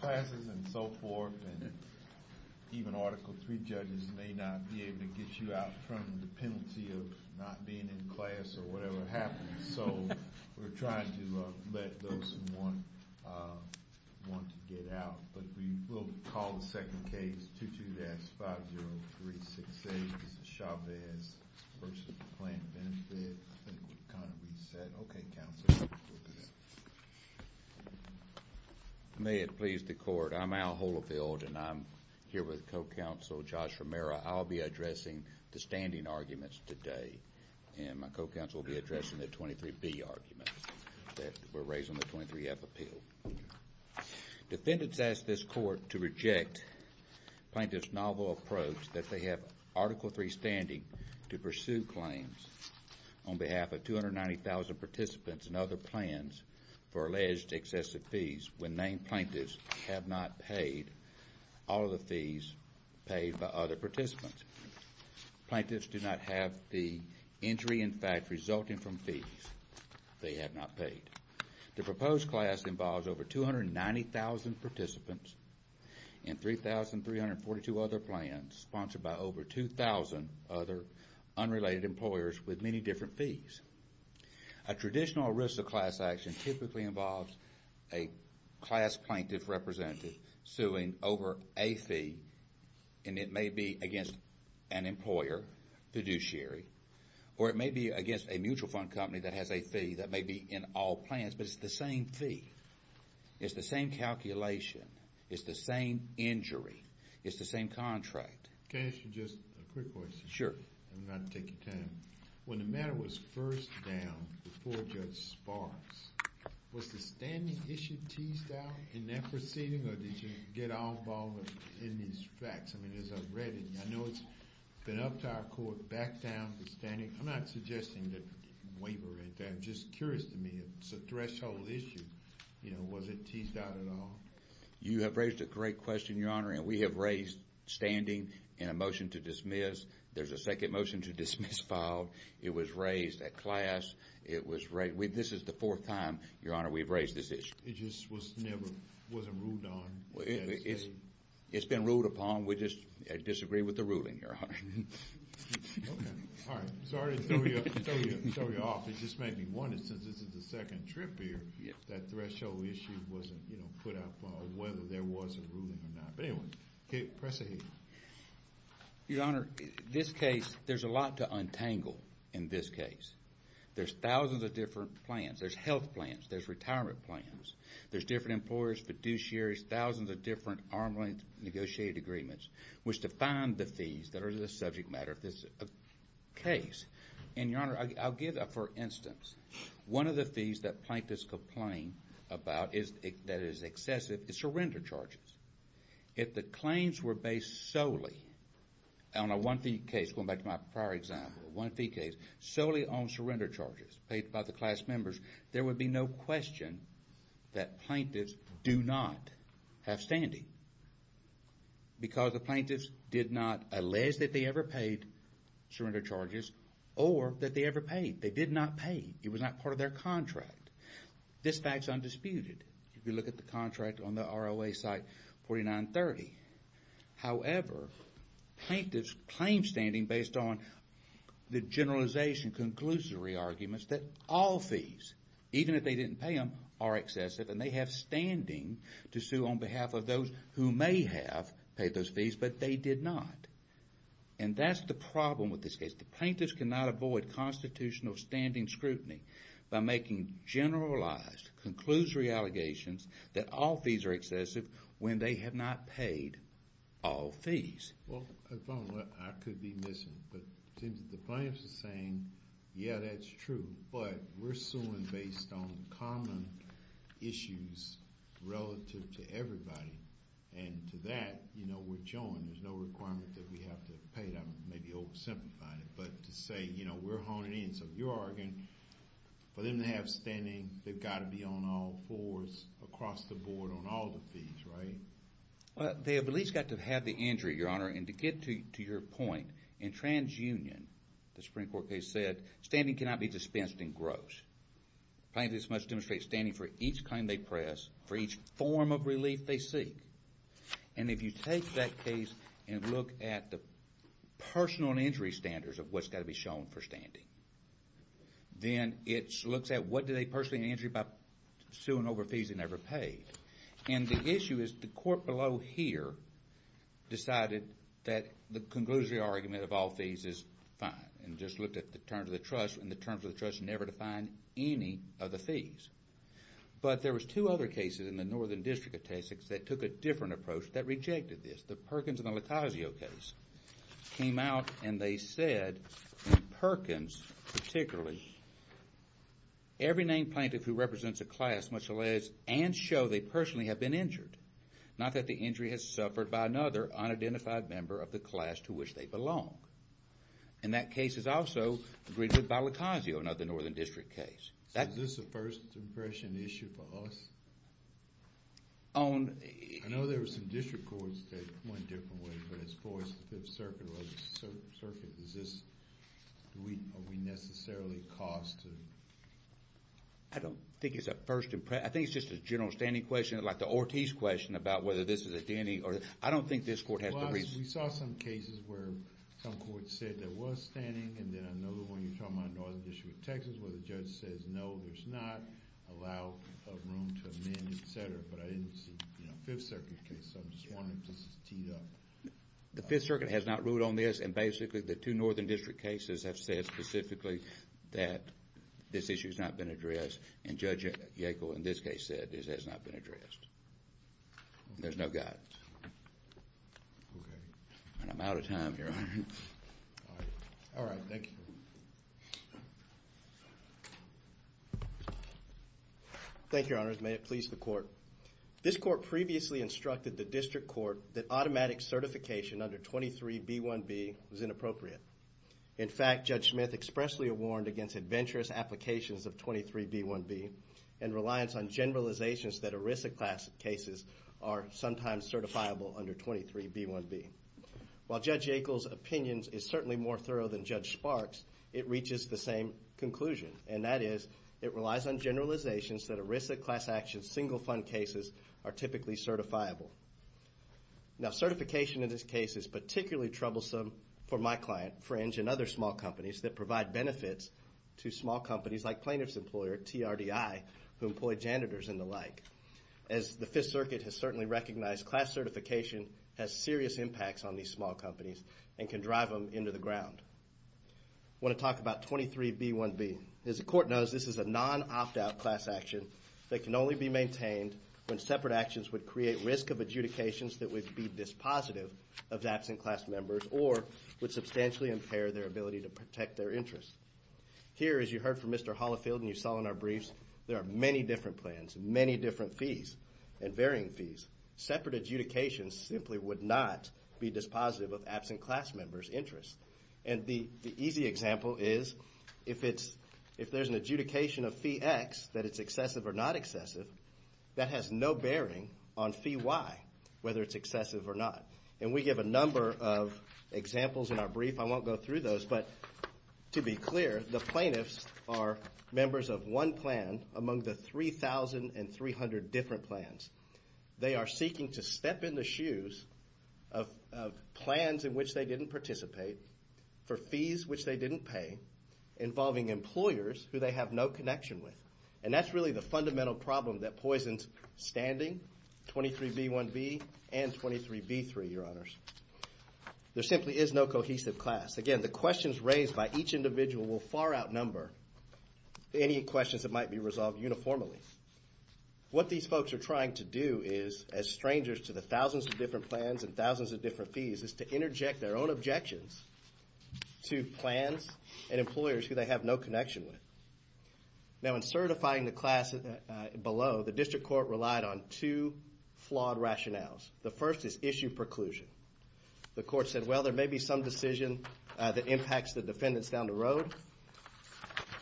Classes and so forth, and even Article 3 judges may not be able to get you out from the penalty of not being in class or whatever happens, so we're trying to let those who want to get out, but we will call the second case, 22-5036A, Mr. Chavez v. Plan Benefit. I think we've kind of reset. Okay, Counselor, we'll go to that. May it please the Court, I'm Al Holifield, and I'm here with Co-Counsel Josh Romero. I'll be addressing the standing arguments today, and my Co-Counsel will be addressing the 23B arguments that were raised in the 23F appeal. Defendants ask this Court to reject Plaintiff's novel approach that they have Article 3 standing to pursue claims on behalf of 290,000 participants and other plans for alleged excessive fees when named plaintiffs have not paid all of the fees paid by other participants. Plaintiffs do not have the injury in fact resulting from fees they have not paid. The proposed class involves over 290,000 participants and 3,342 other plans sponsored by over 2,000 other unrelated employers with many different fees. A traditional risk of class action typically involves a class plaintiff representative suing over a fee, and it may be against an employer, fiduciary, or it may be against a mutual fund company that has a fee that may be in all plans, but it's the same fee. It's the same calculation. It's the same injury. It's the same contract. Can I ask you just a quick question? Sure. And then I'll take your time. When the matter was first downed before Judge Sparks, was the standing issue teased out in that proceeding, or did you get involved in these facts? I mean, as I've read it, I know it's been up to our Court to back down the standing. I'm not suggesting that waiver it. I'm just curious to me. It's a threshold issue. You know, was it teased out at all? You have raised a great question, Your Honor, and we have raised standing and a motion to dismiss. There's a second motion to dismiss filed. It was raised at class. This is the fourth time, Your Honor, we've raised this issue. It just was never ruled on? It's been ruled upon. We just disagree with the ruling, Your Honor. All right. Sorry to throw you off. It just made me wonder, since this is the second trip here, if that threshold issue wasn't put up, or whether there was a ruling or not. But anyway, press ahead. Your Honor, this case, there's a lot to untangle in this case. There's thousands of different plans. There's health plans. There's retirement plans. There's different employers, fiduciaries, thousands of different arm's length negotiated agreements, which define the fees that are the subject matter of this case. And, Your Honor, I'll give, for instance, one of the fees that plaintiffs complain about that is excessive is surrender charges. If the claims were based solely on a one-fee case, going back to my prior example, a one-fee case, solely on surrender charges paid by the class members, there would be no question that plaintiffs do not have standing. Because the plaintiffs did not allege that they ever paid surrender charges or that they ever paid. They did not pay. It was not part of their contract. This fact's undisputed if you look at the contract on the ROA site 4930. However, plaintiffs claim standing based on the generalization, conclusory arguments that all fees, even if they didn't pay them, are excessive and they have standing to sue on behalf of those who may have paid those fees, but they did not. And that's the problem with this case. The plaintiffs cannot avoid constitutional standing scrutiny by making generalized, conclusory allegations that all fees are excessive when they have not paid all fees. Well, if I'm not, I could be missing. But it seems that the plaintiffs are saying, yeah, that's true, but we're suing based on common issues relative to everybody. And to that, you know, we're joined. There's no requirement that we have to pay them, maybe oversimplifying it. But to say, you know, we're honing in. So you're arguing for them to have standing, they've got to be on all fours across the board on all the fees, right? Well, they have at least got to have the injury, Your Honor. And to get to your point, in TransUnion, the Supreme Court case said, standing cannot be dispensed in gross. Plaintiffs must demonstrate standing for each claim they press, for each form of relief they seek. And if you take that case and look at the personal injury standards of what's got to be shown for standing, then it looks at what do they personally injure by suing over fees they never paid. And the issue is the court below here decided that the conclusory argument of all fees is fine and just looked at the terms of the trust, and the terms of the trust never defined any of the fees. But there was two other cases in the Northern District of Texas that took a different approach that rejected this. The Perkins and the Lucazio case came out and they said, in Perkins particularly, every named plaintiff who represents a class must alias and show they personally have been injured, not that the injury has suffered by another unidentified member of the class to which they belong. And that case is also agreed with by Lucazio, another Northern District case. Is this a first impression issue for us? I know there were some district courts that went a different way, but as far as the Fifth Circuit, is this, are we necessarily caused to? I don't think it's a first impression. I think it's just a general standing question, like the Ortiz question about whether this is a denny or, I don't think this court has the reason. We saw some cases where some courts said there was standing, and then another one, you're talking about Northern District of Texas, where the judge says no, there's not, allow room to amend, etc. But I didn't see the Fifth Circuit case, so I'm just wondering if this is teed up. The Fifth Circuit has not ruled on this, and basically the two Northern District cases have said specifically that this issue has not been addressed, and Judge Yackel in this case said this has not been addressed. There's no guidance. And I'm out of time, Your Honor. All right, thank you. Thank you, Your Honor, may it please the court. This court previously instructed the district court that automatic certification under 23B1B was inappropriate. In fact, Judge Smith expressly warned against adventurous applications of 23B1B and reliance on generalizations that ERISA class cases are sometimes certifiable under 23B1B. While Judge Yackel's opinion is certainly more thorough than Judge Sparks, it reaches the same conclusion, and that is it relies on generalizations that ERISA class action single fund cases are typically certifiable. Now certification in this case is particularly troublesome for my client, Fringe, and other small companies that provide benefits to small companies like Plaintiff's Employer, TRDI, who employ janitors and the like. As the Fifth Circuit has certainly recognized, class certification has serious impacts on these small companies and can drive them into the ground. I want to talk about 23B1B. As the court knows, this is a non-opt-out class action that can only be maintained when separate actions would create risk of adjudications that would be dispositive of absent class members or would substantially impair their ability to protect their interests. Here, as you heard from Mr. Holifield and you saw in our briefs, there are many different plans, many different fees, and varying fees. Separate adjudications simply would not be dispositive of absent class members' interests. And the easy example is if there's an adjudication of fee X that it's excessive or not excessive, that has no bearing on fee Y, whether it's excessive or not. And we give a number of examples in our brief. I won't go through those, but to be clear, the plaintiffs are members of one plan among the 3,300 different plans. They are seeking to step in the shoes of plans in which they didn't participate for fees which they didn't pay involving employers who they have no connection with. And that's really the fundamental problem that poisons standing 23B1B and 23B3, Your Honors. There simply is no cohesive class. Again, the questions raised by each individual will far outnumber any questions that might be resolved uniformly. What these folks are trying to do is, as strangers to the thousands of different plans and thousands of different fees, is to interject their own objections to plans and employers who they have no connection with. Now, in certifying the class below, the district court relied on two flawed rationales. The first is issue preclusion. The court said, well, there may be some decision that impacts the defendants down the road.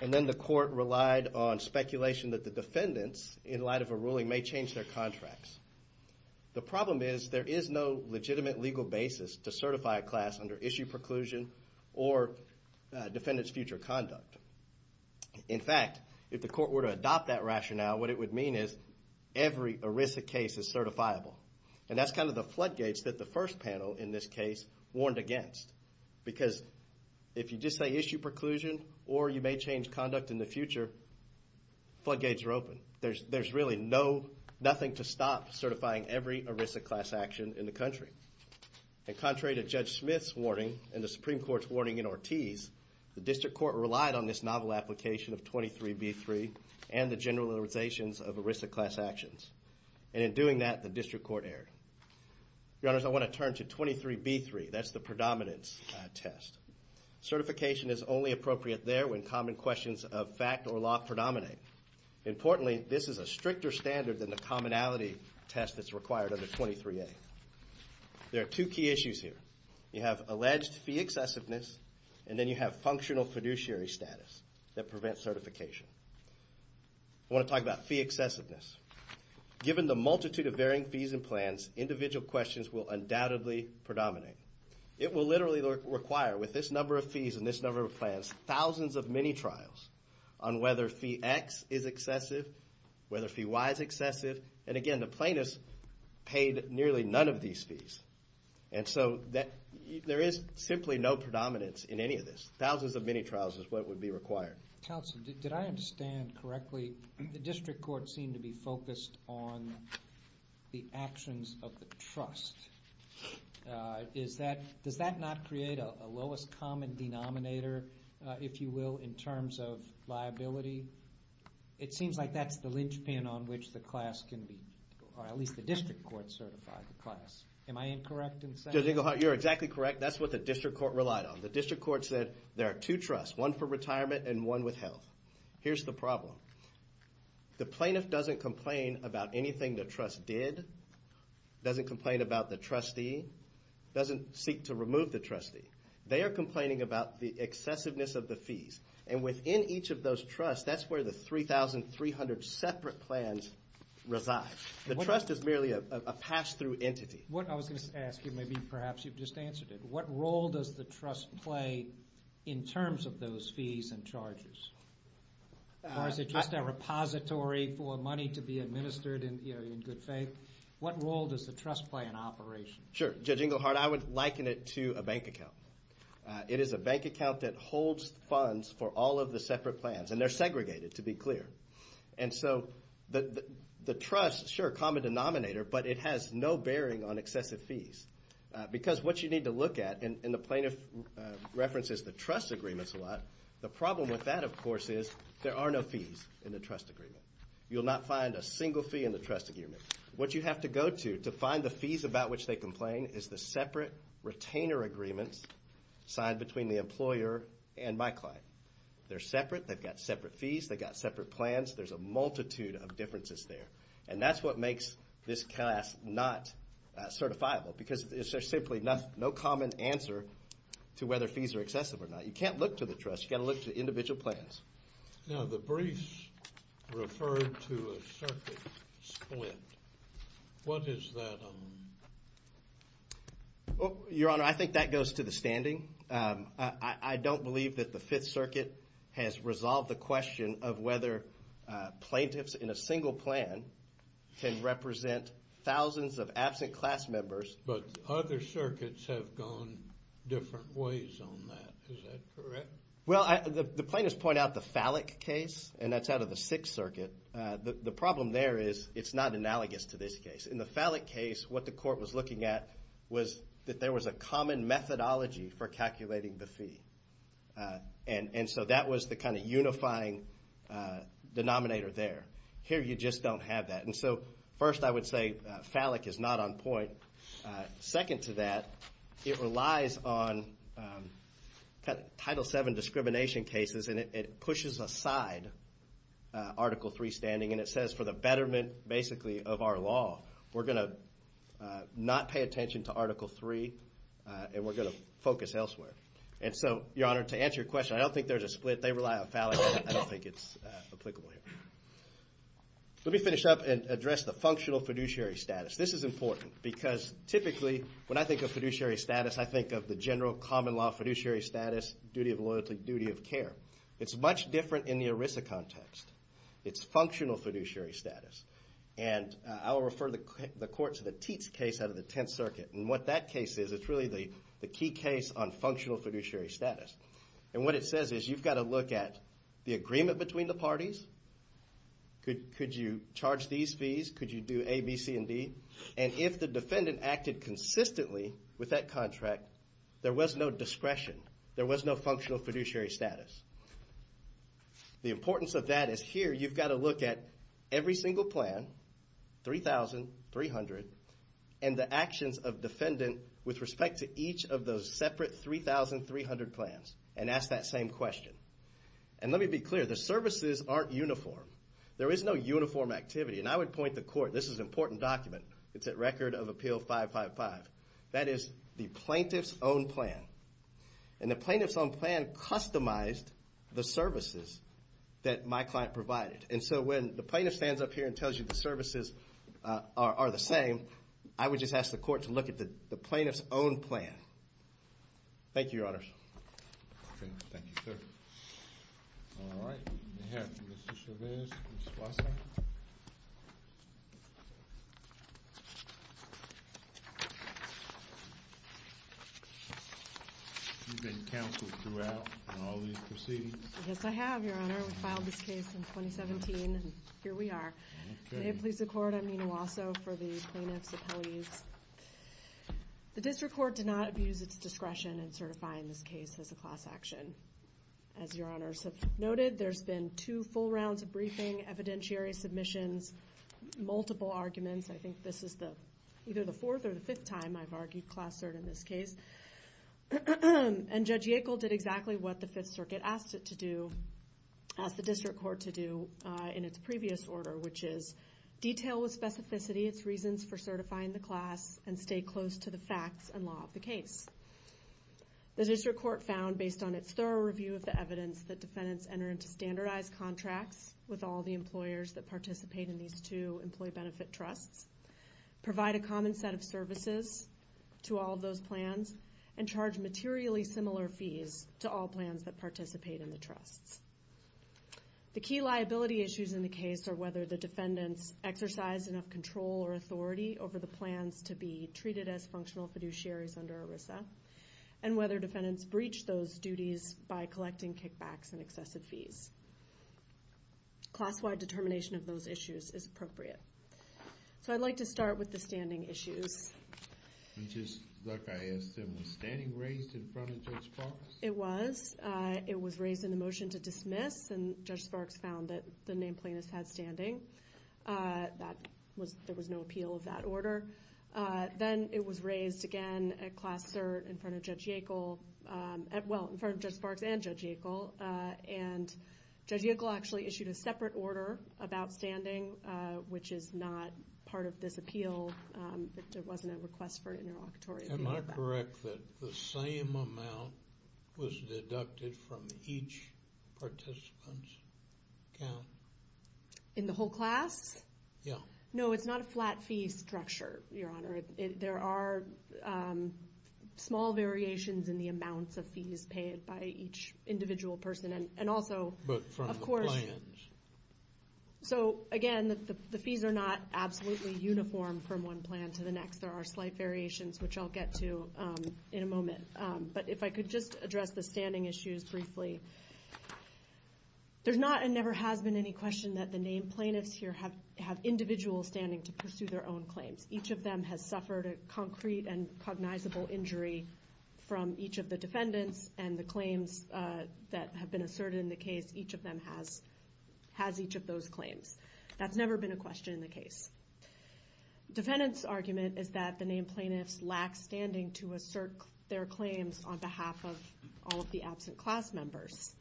And then the court relied on speculation that the defendants, in light of a ruling, may change their contracts. The problem is there is no legitimate legal basis to certify a class under issue preclusion or defendants' future conduct. In fact, if the court were to adopt that rationale, what it would mean is every ERISA case is certifiable. And that's kind of the floodgates that the first panel in this case warned against. Because if you just say issue preclusion or you may change conduct in the future, floodgates are open. There's really nothing to stop certifying every ERISA class action in the country. And contrary to Judge Smith's warning and the Supreme Court's warning in Ortiz, the district court relied on this novel application of 23B3 and the generalizations of ERISA class actions. And in doing that, the district court erred. Your Honors, I want to turn to 23B3. That's the predominance test. Certification is only appropriate there when common questions of fact or law predominate. Importantly, this is a stricter standard than the commonality test that's required under 23A. There are two key issues here. You have alleged fee excessiveness and then you have functional fiduciary status that prevents certification. I want to talk about fee excessiveness. Given the multitude of varying fees and plans, individual questions will undoubtedly predominate. It will literally require, with this number of fees and this number of plans, thousands of mini-trials on whether fee X is excessive, whether fee Y is excessive. And again, the plaintiffs paid nearly none of these fees. And so there is simply no predominance in any of this. Thousands of mini-trials is what would be required. Counsel, did I understand correctly, the district courts seem to be focused on the actions of the trust. Does that not create a lowest common denominator, if you will, in terms of liability? It seems like that's the linchpin on which the class can be, or at least the district courts certify the class. Am I incorrect in saying that? Judge Eaglehart, you're exactly correct. That's what the district court relied on. The district court said there are two trusts, one for retirement and one with health. Here's the problem. The plaintiff doesn't complain about anything the trust did, doesn't complain about the trustee, doesn't seek to remove the trustee. They are complaining about the excessiveness of the fees. And within each of those trusts, that's where the 3,300 separate plans reside. The trust is merely a pass-through entity. What I was going to ask you, maybe perhaps you've just answered it, what role does the trust play in terms of those fees and charges? Or is it just a repository for money to be administered in good faith? What role does the trust play in operation? Sure. Judge Eaglehart, I would liken it to a bank account. It is a bank account that holds funds for all of the separate plans. And they're segregated, to be clear. And so the trust, sure, a common denominator, but it has no bearing on excessive fees. Because what you need to look at, and the plaintiff references the trust agreements a lot, the problem with that, of course, is there are no fees in the trust agreement. You'll not find a single fee in the trust agreement. What you have to go to to find the fees about which they complain is the separate retainer agreements signed between the employer and my client. They're separate. They've got separate fees. They've got separate plans. There's a multitude of differences there. And that's what makes this class not certifiable, because there's simply no common answer to whether fees are excessive or not. You can't look to the trust. You've got to look to individual plans. Now, the briefs referred to a circuit split. What is that on? Your Honor, I think that goes to the standing. I don't believe that the Fifth Circuit has resolved the question of whether plaintiffs in a single plan can represent thousands of absent class members. But other circuits have gone different ways on that. Is that correct? Well, the plaintiffs point out the phallic case, and that's out of the Sixth Circuit. The problem there is it's not analogous to this case. In the phallic case, what the court was looking at was that there was a common methodology for calculating the fee. And so that was the kind of unifying denominator there. Here, you just don't have that. And so first, I would say phallic is not on point. Second to that, it relies on Title VII discrimination cases, and it pushes aside Article III standing. And it says for the betterment, basically, of our law, we're going to not pay attention to Article III, and we're going to focus elsewhere. And so, Your Honor, to answer your question, I don't think there's a split. They rely on phallic, and I don't think it's applicable here. Let me finish up and address the functional fiduciary status. This is important because typically, when I think of fiduciary status, I think of the general common law fiduciary status, duty of loyalty, duty of care. It's much different in the ERISA context. It's functional fiduciary status. And I will refer the court to the Teats case out of the Tenth Circuit. And what that case is, it's really the key case on functional fiduciary status. And what it says is you've got to look at the agreement between the parties. Could you charge these fees? Could you do A, B, C, and D? And if the defendant acted consistently with that contract, there was no discretion. There was no functional fiduciary status. The importance of that is here you've got to look at every single plan, 3,300, and the actions of defendant with respect to each of those separate 3,300 plans and ask that same question. And let me be clear. The services aren't uniform. There is no uniform activity. And I would point the court. This is an important document. It's at Record of Appeal 555. That is the plaintiff's own plan. And the plaintiff's own plan customized the services that my client provided. And so when the plaintiff stands up here and tells you the services are the same, I would just ask the court to look at the plaintiff's own plan. Thank you, Your Honors. Okay. Thank you, sir. All right. We have Ms. Chavez and Ms. Wasson. You've been counseled throughout on all these proceedings? Yes, I have, Your Honor. We filed this case in 2017, and here we are. May it please the Court, I'm Nina Wasso for the plaintiff's appellees. The district court did not abuse its discretion in certifying this case as a class action. As Your Honors have noted, there's been two full rounds of briefing, evidentiary submissions, multiple arguments. I think this is either the fourth or the fifth time I've argued class cert in this case. And Judge Yackel did exactly what the Fifth Circuit asked it to do, asked the district court to do in its previous order, which is detail with specificity its reasons for certifying the class and stay close to the facts and law of the case. The district court found, based on its thorough review of the evidence, that defendants enter into standardized contracts with all the employers that participate in these two employee benefit trusts, provide a common set of services to all of those plans, and charge materially similar fees to all plans that participate in the trusts. The key liability issues in the case are whether the defendants exercise enough control or authority over the plans to be treated as functional fiduciaries under ERISA, and whether defendants breach those duties by collecting kickbacks and excessive fees. Class-wide determination of those issues is appropriate. So I'd like to start with the standing issues. Just like I asked them, was standing raised in front of Judge Sparks? It was. It was raised in the motion to dismiss, and Judge Sparks found that the named plaintiffs had standing. There was no appeal of that order. Then it was raised again at class cert in front of Judge Yackel, well, in front of Judge Sparks and Judge Yackel, and Judge Yackel actually issued a separate order of outstanding, which is not part of this appeal. There wasn't a request for an interlocutory appeal. Am I correct that the same amount was deducted from each participant's account? In the whole class? Yeah. No, it's not a flat fee structure, Your Honor. There are small variations in the amounts of fees paid by each individual person. But from the plans? So, again, the fees are not absolutely uniform from one plan to the next. There are slight variations, which I'll get to in a moment. But if I could just address the standing issues briefly. There's not and never has been any question that the named plaintiffs here have individual standing to pursue their own claims. Each of them has suffered a concrete and cognizable injury from each of the defendants, and the claims that have been asserted in the case, each of them has each of those claims. That's never been a question in the case. Defendants' argument is that the named plaintiffs lack standing to assert their claims on behalf of all of the absent class members.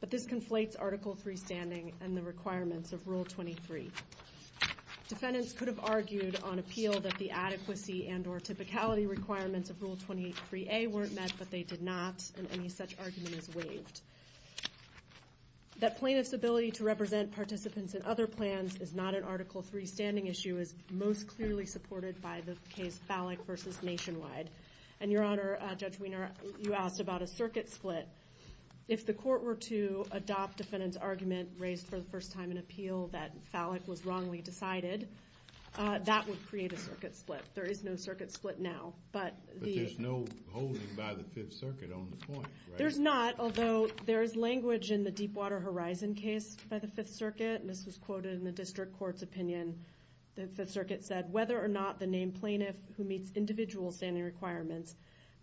But this conflates Article III standing and the requirements of Rule 23. Defendants could have argued on appeal that the adequacy and or typicality requirements of Rule 23A weren't met, but they did not, and any such argument is waived. That plaintiffs' ability to represent participants in other plans is not an Article III standing issue is most clearly supported by the case Fallick v. Nationwide. And, Your Honor, Judge Wiener, you asked about a circuit split. If the court were to adopt defendant's argument raised for the first time in appeal that Fallick was wrongly decided, that would create a circuit split. There is no circuit split now. But there's no holding by the Fifth Circuit on the point, right? There's not, although there is language in the Deepwater Horizon case by the Fifth Circuit, and this was quoted in the district court's opinion. The Fifth Circuit said, whether or not the named plaintiff who meets individual standing requirements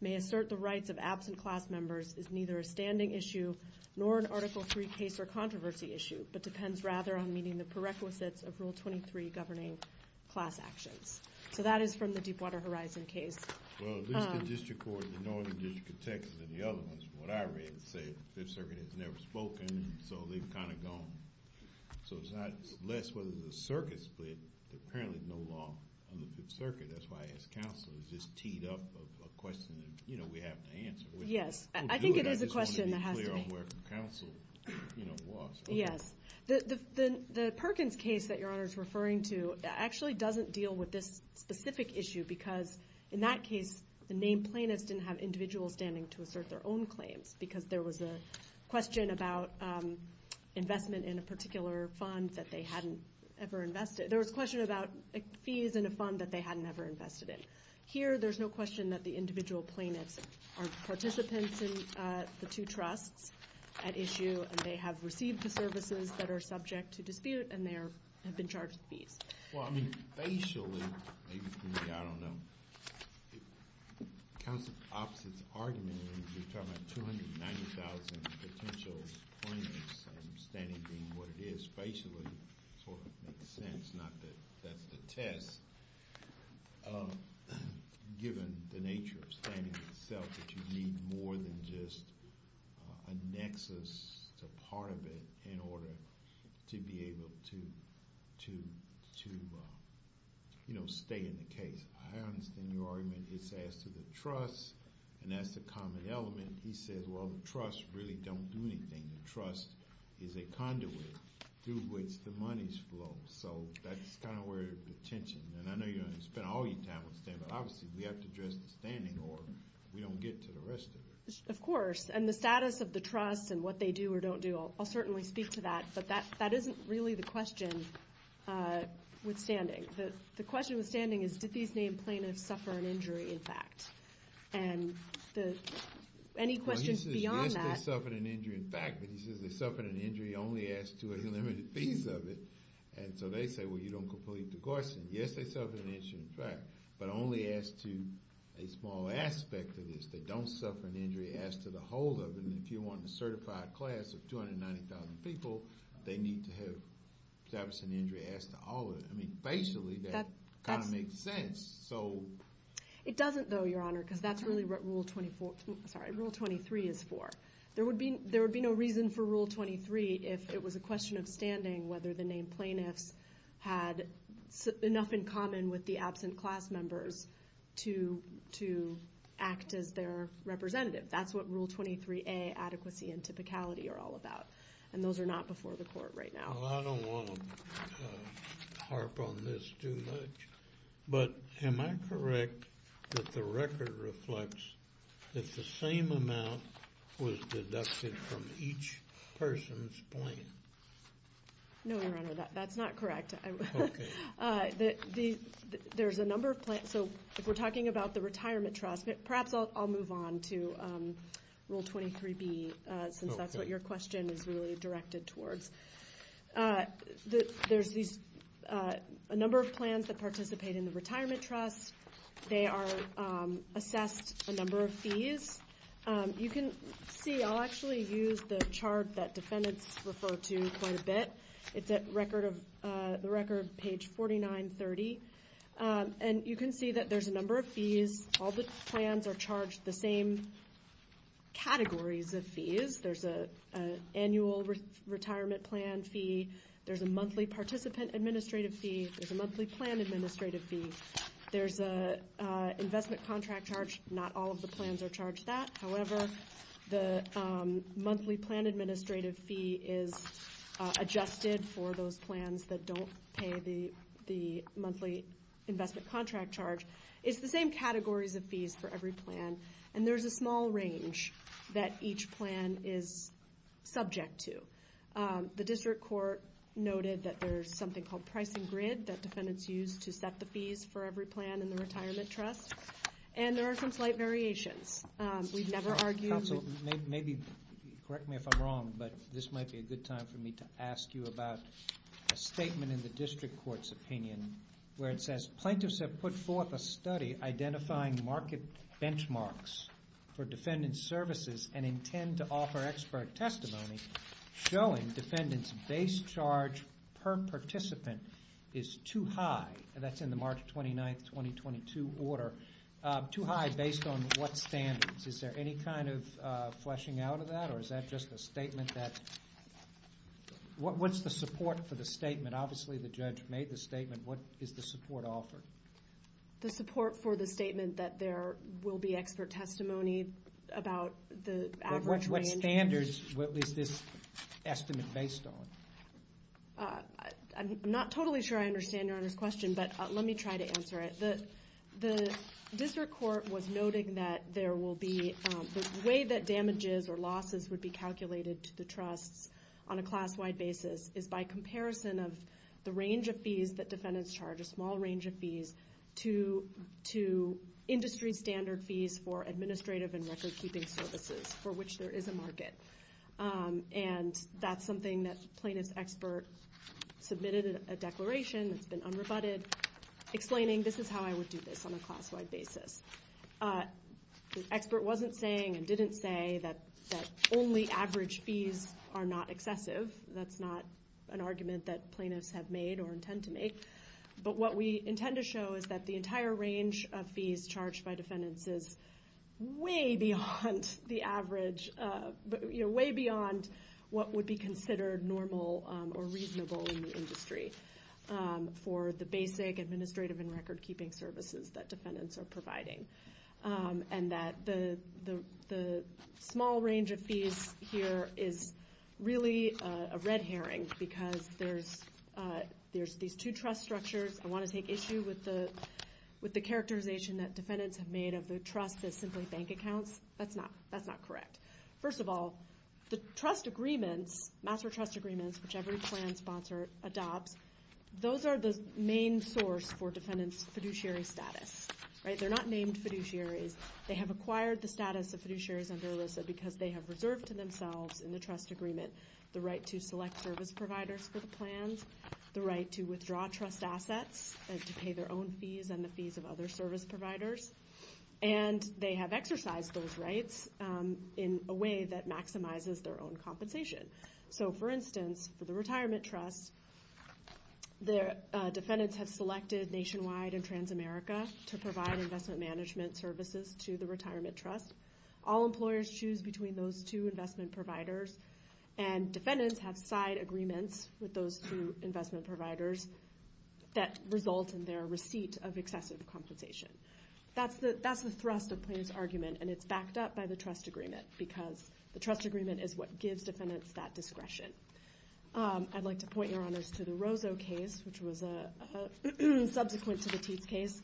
may assert the rights of absent class members is neither a standing issue nor an Article III case or controversy issue, but depends rather on meeting the prerequisites of Rule 23 governing class actions. So that is from the Deepwater Horizon case. Well, at least the district court, the Northern District of Texas, and the other ones, from what I read, say the Fifth Circuit has never spoken, so they've kind of gone. So it's not less whether there's a circuit split. There's apparently no law on the Fifth Circuit. That's why I asked counsel. Is this teed up of a question that we have to answer? Yes. I think it is a question that has to be clear on where counsel walks. Yes. The Perkins case that Your Honor is referring to actually doesn't deal with this specific issue because in that case the named plaintiffs didn't have individuals standing to assert their own claims because there was a question about investment in a particular fund that they hadn't ever invested. There was a question about fees in a fund that they hadn't ever invested in. Here, there's no question that the individual plaintiffs are participants in the two trusts at issue, and they have received the services that are subject to dispute, and they have been charged fees. Well, I mean, facially, maybe for me, I don't know. Counsel's opposite argument is you're talking about 290,000 potential plaintiffs, and standing being what it is facially sort of makes sense, not that that's the test, given the nature of standing itself that you need more than just a nexus, a part of it, in order to be able to, you know, stay in the case. I understand your argument is as to the trusts, and that's the common element. He says, well, the trusts really don't do anything. The trust is a conduit through which the monies flow, so that's kind of where the tension, and I know you're going to spend all your time with standing, but obviously we have to address the standing or we don't get to the rest of it. Of course, and the status of the trust and what they do or don't do, I'll certainly speak to that, but that isn't really the question with standing. The question with standing is did these named plaintiffs suffer an injury, in fact? And any questions beyond that? Well, he says, yes, they suffered an injury, in fact, but he says they suffered an injury only as to a limited piece of it, and so they say, well, you don't complete the Gorson. Yes, they suffered an injury, in fact, but only as to a small aspect of this. They don't suffer an injury as to the whole of it, and if you want a certified class of 290,000 people, they need to have suffered an injury as to all of it. I mean, facially that kind of makes sense. It doesn't, though, Your Honor, because that's really what Rule 23 is for. There would be no reason for Rule 23 if it was a question of standing whether the named plaintiffs had enough in common with the absent class members to act as their representative. That's what Rule 23A, adequacy and typicality, are all about, and those are not before the court right now. Well, I don't want to harp on this too much, but am I correct that the record reflects that the same amount was deducted from each person's plan? No, Your Honor, that's not correct. Okay. There's a number of plans, so if we're talking about the retirement trust, perhaps I'll move on to Rule 23B, since that's what your question is really directed towards. There's a number of plans that participate in the retirement trust. They are assessed a number of fees. You can see I'll actually use the chart that defendants refer to quite a bit. It's the record page 4930, and you can see that there's a number of fees. All the plans are charged the same categories of fees. There's an annual retirement plan fee. There's a monthly participant administrative fee. There's a monthly plan administrative fee. There's an investment contract charge. Not all of the plans are charged that. However, the monthly plan administrative fee is adjusted for those plans that don't pay the monthly investment contract charge. It's the same categories of fees for every plan, and there's a small range that each plan is subject to. The district court noted that there's something called pricing grid that defendants use to set the fees for every plan in the retirement trust, and there are some slight variations. We've never argued. Counsel, correct me if I'm wrong, but this might be a good time for me to ask you about a statement in the district court's opinion where it says, we have put forth a study identifying market benchmarks for defendant services and intend to offer expert testimony showing defendants' base charge per participant is too high. That's in the March 29, 2022 order. Too high based on what standards. Is there any kind of fleshing out of that, or is that just a statement that what's the support for the statement? Obviously the judge made the statement. What is the support offered? The support for the statement that there will be expert testimony about the average range. What standards was this estimate based on? I'm not totally sure I understand Your Honor's question, but let me try to answer it. The district court was noting that there will be the way that damages or losses would be calculated to the trusts on a class-wide basis is by comparison of the range of fees that defendants charge, a small range of fees, to industry standard fees for administrative and record-keeping services for which there is a market. And that's something that plaintiff's expert submitted a declaration that's been unrebutted explaining this is how I would do this on a class-wide basis. The expert wasn't saying and didn't say that only average fees are not excessive. That's not an argument that plaintiffs have made or intend to make. But what we intend to show is that the entire range of fees charged by defendants is way beyond the average, way beyond what would be considered normal or reasonable in the industry for the basic administrative and record-keeping services that defendants are providing. And that the small range of fees here is really a red herring because there's these two trust structures. I want to take issue with the characterization that defendants have made of the trust as simply bank accounts. That's not correct. First of all, the trust agreements, master trust agreements, which every plan sponsor adopts, those are the main source for defendant's fiduciary status. They're not named fiduciaries. They have acquired the status of fiduciaries under ERISA because they have reserved to themselves in the trust agreement the right to select service providers for the plans, the right to withdraw trust assets and to pay their own fees and the fees of other service providers. And they have exercised those rights in a way that maximizes their own compensation. So, for instance, for the retirement trust, defendants have selected Nationwide and Transamerica to provide investment management services to the retirement trust. All employers choose between those two investment providers, and defendants have side agreements with those two investment providers that result in their receipt of excessive compensation. That's the thrust of Plaintiff's Argument, and it's backed up by the trust agreement because the trust agreement is what gives defendants that discretion. I'd like to point your honors to the Rosso case, which was subsequent to the Teats case.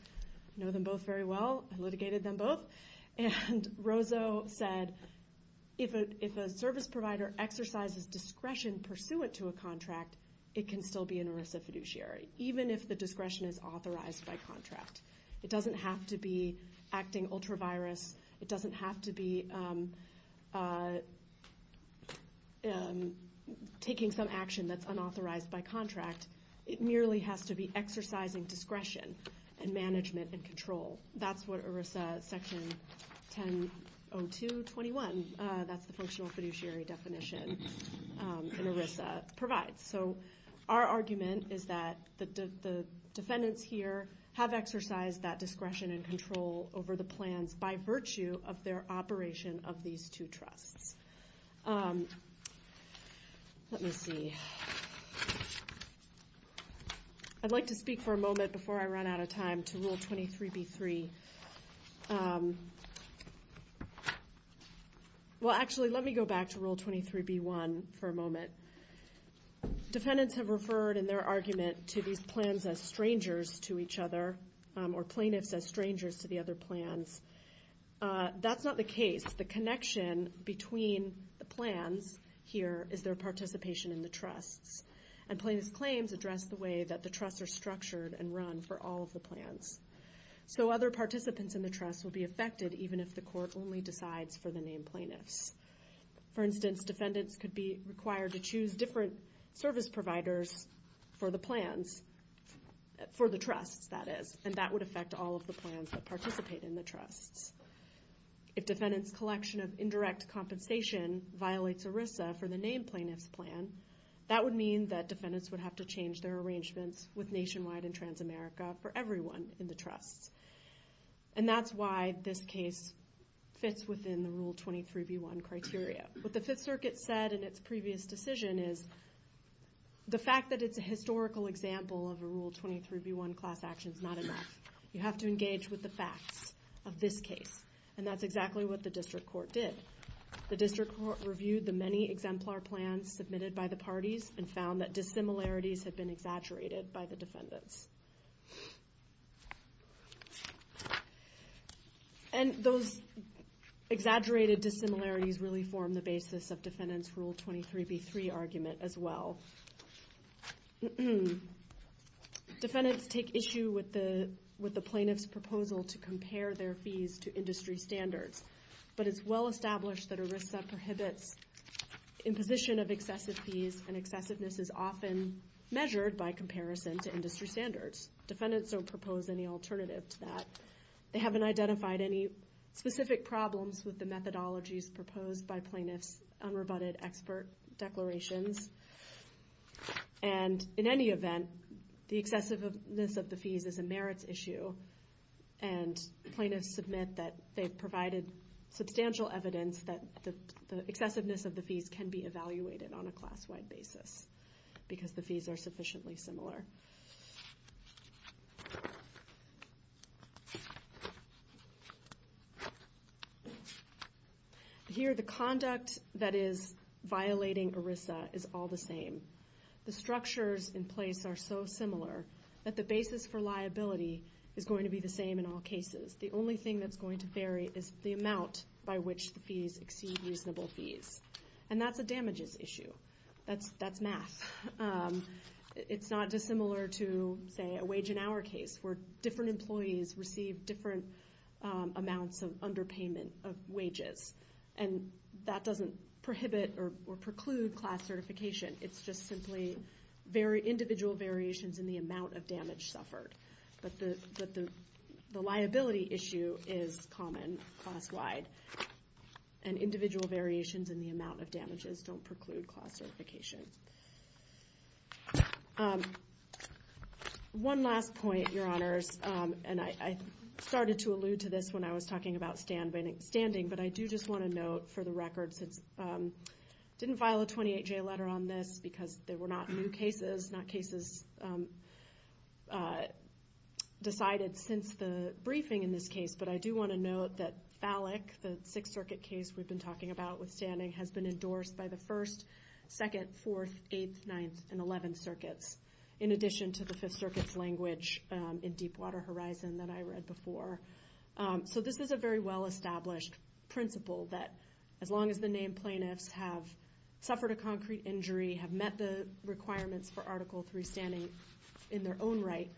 I know them both very well. I litigated them both. And Rosso said if a service provider exercises discretion pursuant to a contract, it can still be an ERISA fiduciary, even if the discretion is authorized by contract. It doesn't have to be acting ultra-virus. It doesn't have to be taking some action that's unauthorized by contract. It merely has to be exercising discretion and management and control. That's what ERISA Section 1002.21, that's the functional fiduciary definition in ERISA, provides. So our argument is that the defendants here have exercised that discretion and control over the plans by virtue of their operation of these two trusts. Let me see. I'd like to speak for a moment before I run out of time to Rule 23b-3. Well, actually, let me go back to Rule 23b-1 for a moment. Defendants have referred in their argument to these plans as strangers to each other or plaintiffs as strangers to the other plans. That's not the case. The connection between the plans here is their participation in the trusts, and plaintiffs' claims address the way that the trusts are structured and run for all of the plans. So other participants in the trust will be affected even if the court only decides for the named plaintiffs. For instance, defendants could be required to choose different service providers for the plans, for the trusts, that is, and that would affect all of the plans that participate in the trusts. If defendants' collection of indirect compensation violates ERISA for the named plaintiffs' plan, that would mean that defendants would have to change their arrangements with Nationwide and Transamerica for everyone in the trusts. And that's why this case fits within the Rule 23b-1 criteria. What the Fifth Circuit said in its previous decision is the fact that it's a historical example of a Rule 23b-1 class action is not enough. You have to engage with the facts of this case, and that's exactly what the district court did. The district court reviewed the many exemplar plans submitted by the parties and found that dissimilarities had been exaggerated by the defendants. And those exaggerated dissimilarities really form the basis of defendants' Rule 23b-3 argument as well. Defendants take issue with the plaintiff's proposal to compare their fees to industry standards, but it's well established that ERISA prohibits imposition of excessive fees, and excessiveness is often measured by comparison to industry standards. Defendants don't propose any alternative to that. They haven't identified any specific problems with the methodologies proposed by plaintiffs' unrebutted expert declarations. And in any event, the excessiveness of the fees is a merits issue, and plaintiffs submit that they've provided substantial evidence that the excessiveness of the fees can be evaluated on a class-wide basis because the fees are sufficiently similar. Here, the conduct that is violating ERISA is all the same. The structures in place are so similar that the basis for liability is going to be the same in all cases. The only thing that's going to vary is the amount by which the fees exceed reasonable fees, and that's a damages issue. That's math. It's not dissimilar to, say, a wage and hour case, where different employees receive different amounts of underpayment of wages, and that doesn't prohibit or preclude class certification. It's just simply individual variations in the amount of damage suffered. But the liability issue is common class-wide, and individual variations in the amount of damages don't preclude class certification. One last point, Your Honors, and I started to allude to this when I was talking about standing, but I do just want to note for the record since I didn't file a 28-J letter on this because there were not new cases, not cases decided since the briefing in this case, but I do want to note that Fallick, the Sixth Circuit case we've been talking about with standing, has been endorsed by the First, Second, Fourth, Eighth, Ninth, and Eleventh Circuits, in addition to the Fifth Circuit's language in Deepwater Horizon that I read before. So this is a very well-established principle that as long as the named plaintiffs have suffered a concrete injury, have met the requirements for Article III standing in their own right,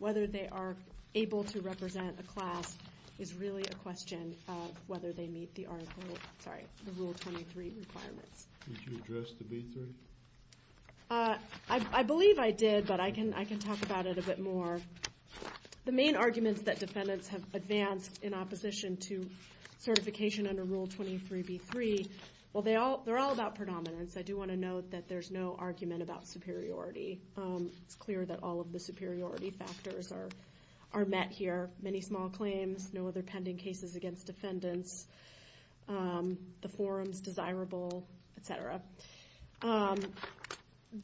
whether they are able to represent a class is really a question of whether they meet the Article, sorry, the Rule 23 requirements. Did you address the B-3? I believe I did, but I can talk about it a bit more. The main arguments that defendants have advanced in opposition to certification under Rule 23B-3, well, they're all about predominance. I do want to note that there's no argument about superiority. It's clear that all of the superiority factors are met here, many small claims, no other pending cases against defendants, the forum's desirable, et cetera.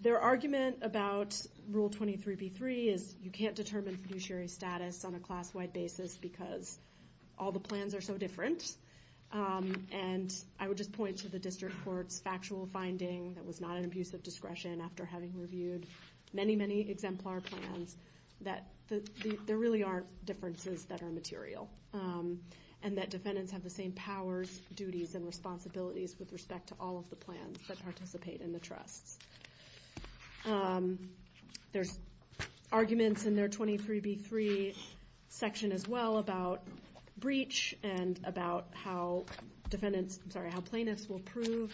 Their argument about Rule 23B-3 is you can't determine fiduciary status on a class-wide basis because all the plans are so different, and I would just point to the district court's factual finding that was not an abuse of discretion after having reviewed many, many exemplar plans that there really are differences that are material, and that defendants have the same powers, duties, and responsibilities with respect to all of the plans that participate in the trusts. There's arguments in their 23B-3 section as well about breach and about how plaintiffs will prove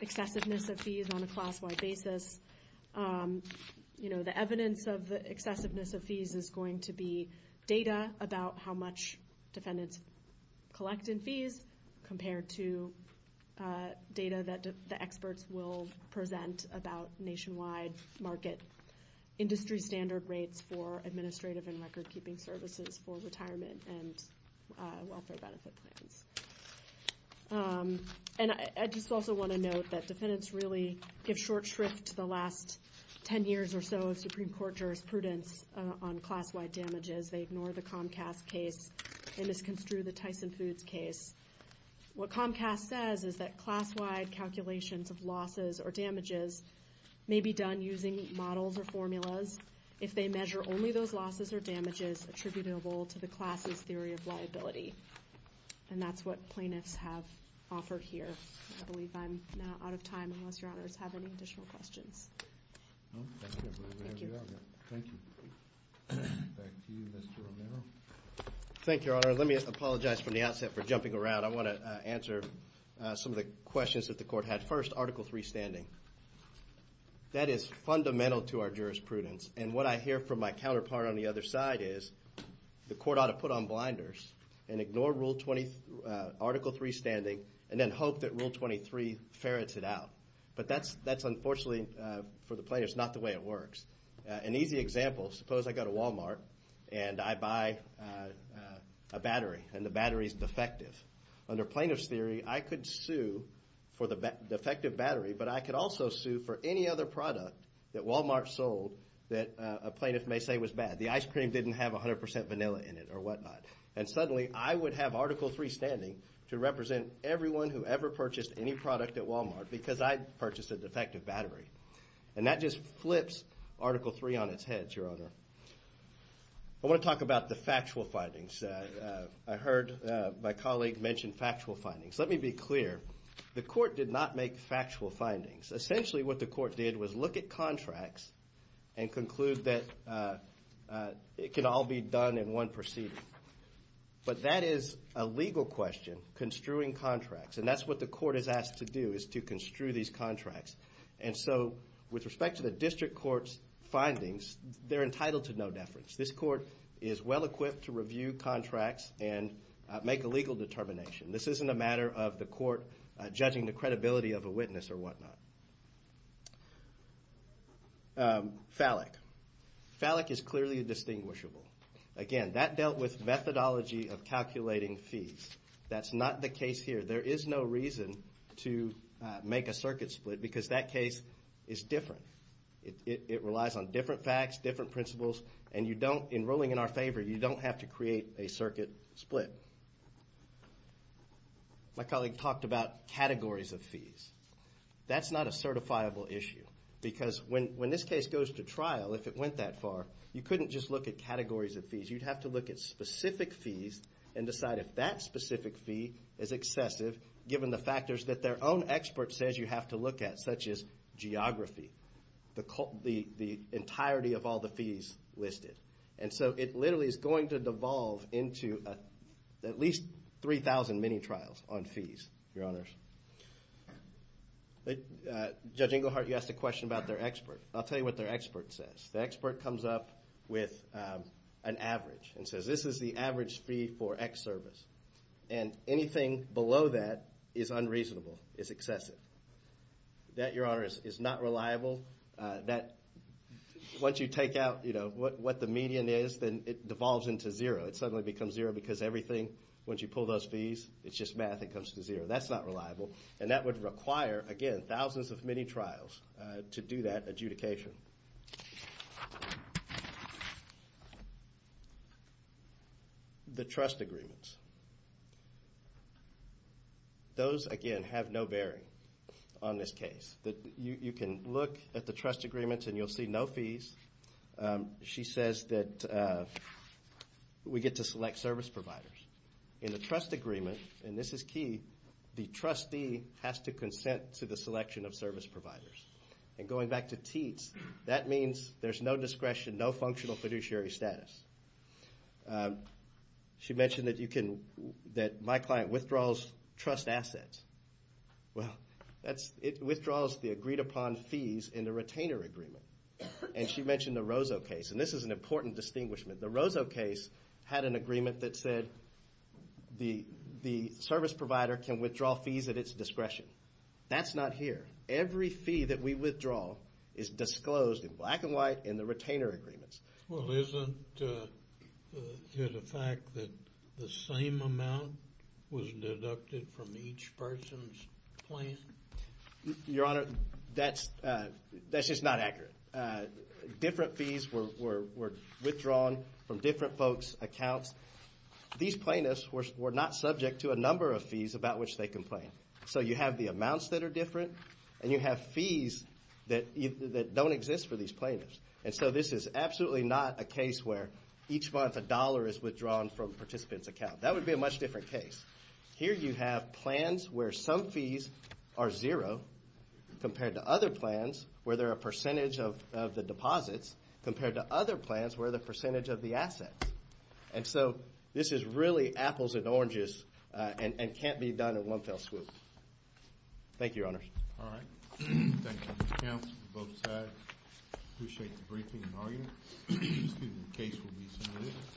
excessiveness of fees on a class-wide basis. The evidence of the excessiveness of fees is going to be data about how much defendants collect in fees compared to data that the experts will present about nationwide market industry standard rates for administrative and record-keeping services for retirement and welfare benefit plans. And I just also want to note that defendants really give short shrift to the last 10 years or so of Supreme Court jurisprudence on class-wide damages. They ignore the Comcast case. They misconstrue the Tyson Foods case. What Comcast says is that class-wide calculations of losses or damages may be done using models or formulas if they measure only those losses or damages attributable to the class's theory of liability. And that's what plaintiffs have offered here. I believe I'm now out of time unless Your Honors have any additional questions. Thank you. Back to you, Mr. Romero. Thank you, Your Honor. Let me apologize from the outset for jumping around. I want to answer some of the questions that the Court had. First, Article III standing. That is fundamental to our jurisprudence. And what I hear from my counterpart on the other side is the Court ought to put on blinders and ignore Article III standing and then hope that Rule 23 ferrets it out. But that's unfortunately for the plaintiffs not the way it works. An easy example, suppose I go to Wal-Mart and I buy a battery and the battery is defective. Under plaintiff's theory, I could sue for the defective battery, but I could also sue for any other product that Wal-Mart sold that a plaintiff may say was bad. The ice cream didn't have 100% vanilla in it or whatnot. And suddenly I would have Article III standing to represent everyone who ever purchased any product at Wal-Mart because I purchased a defective battery. And that just flips Article III on its head, Your Honor. I want to talk about the factual findings. I heard my colleague mention factual findings. Let me be clear. The Court did not make factual findings. Essentially what the Court did was look at contracts and conclude that it can all be done in one proceeding. But that is a legal question, construing contracts. And that's what the Court is asked to do is to construe these contracts. And so with respect to the District Court's findings, they're entitled to no deference. This Court is well-equipped to review contracts and make a legal determination. This isn't a matter of the Court judging the credibility of a witness or whatnot. FALIC. FALIC is clearly a distinguishable. Again, that dealt with methodology of calculating fees. That's not the case here. There is no reason to make a circuit split because that case is different. It relies on different facts, different principles. And in ruling in our favor, you don't have to create a circuit split. My colleague talked about categories of fees. That's not a certifiable issue because when this case goes to trial, if it went that far, you couldn't just look at categories of fees. You'd have to look at specific fees and decide if that specific fee is excessive given the factors that their own expert says you have to look at, such as geography, the entirety of all the fees listed. And so it literally is going to devolve into at least 3,000 mini-trials on fees, Your Honors. Judge Inglehart, you asked a question about their expert. I'll tell you what their expert says. The expert comes up with an average and says, this is the average fee for X service. And anything below that is unreasonable, is excessive. That, Your Honors, is not reliable. Once you take out what the median is, then it devolves into zero. It suddenly becomes zero because everything, once you pull those fees, it's just math that comes to zero. That's not reliable. And that would require, again, thousands of mini-trials to do that adjudication. The trust agreements. Those, again, have no bearing on this case. You can look at the trust agreements and you'll see no fees. She says that we get to select service providers. In the trust agreement, and this is key, the trustee has to consent to the selection of service providers. And going back to TEATS, that means there's no discretion, no functional fiduciary status. She mentioned that my client withdraws trust assets. Well, it withdraws the agreed-upon fees in the retainer agreement. And she mentioned the Rosso case, and this is an important distinguishment. The Rosso case had an agreement that said the service provider can withdraw fees at its discretion. That's not here. Every fee that we withdraw is disclosed in black and white in the retainer agreements. Well, isn't it a fact that the same amount was deducted from each person's plan? Your Honor, that's just not accurate. Different fees were withdrawn from different folks' accounts. These plaintiffs were not subject to a number of fees about which they complained. So you have the amounts that are different, and you have fees that don't exist for these plaintiffs. And so this is absolutely not a case where each month a dollar is withdrawn from a participant's account. That would be a much different case. Here you have plans where some fees are zero compared to other plans where they're a percentage of the deposits compared to other plans where they're a percentage of the assets. And so this is really apples and oranges and can't be done in one fell swoop. Thank you, Your Honor. All right. Thank you, Mr. Kemp, both sides. I appreciate the briefing and argument. The case will be submitted.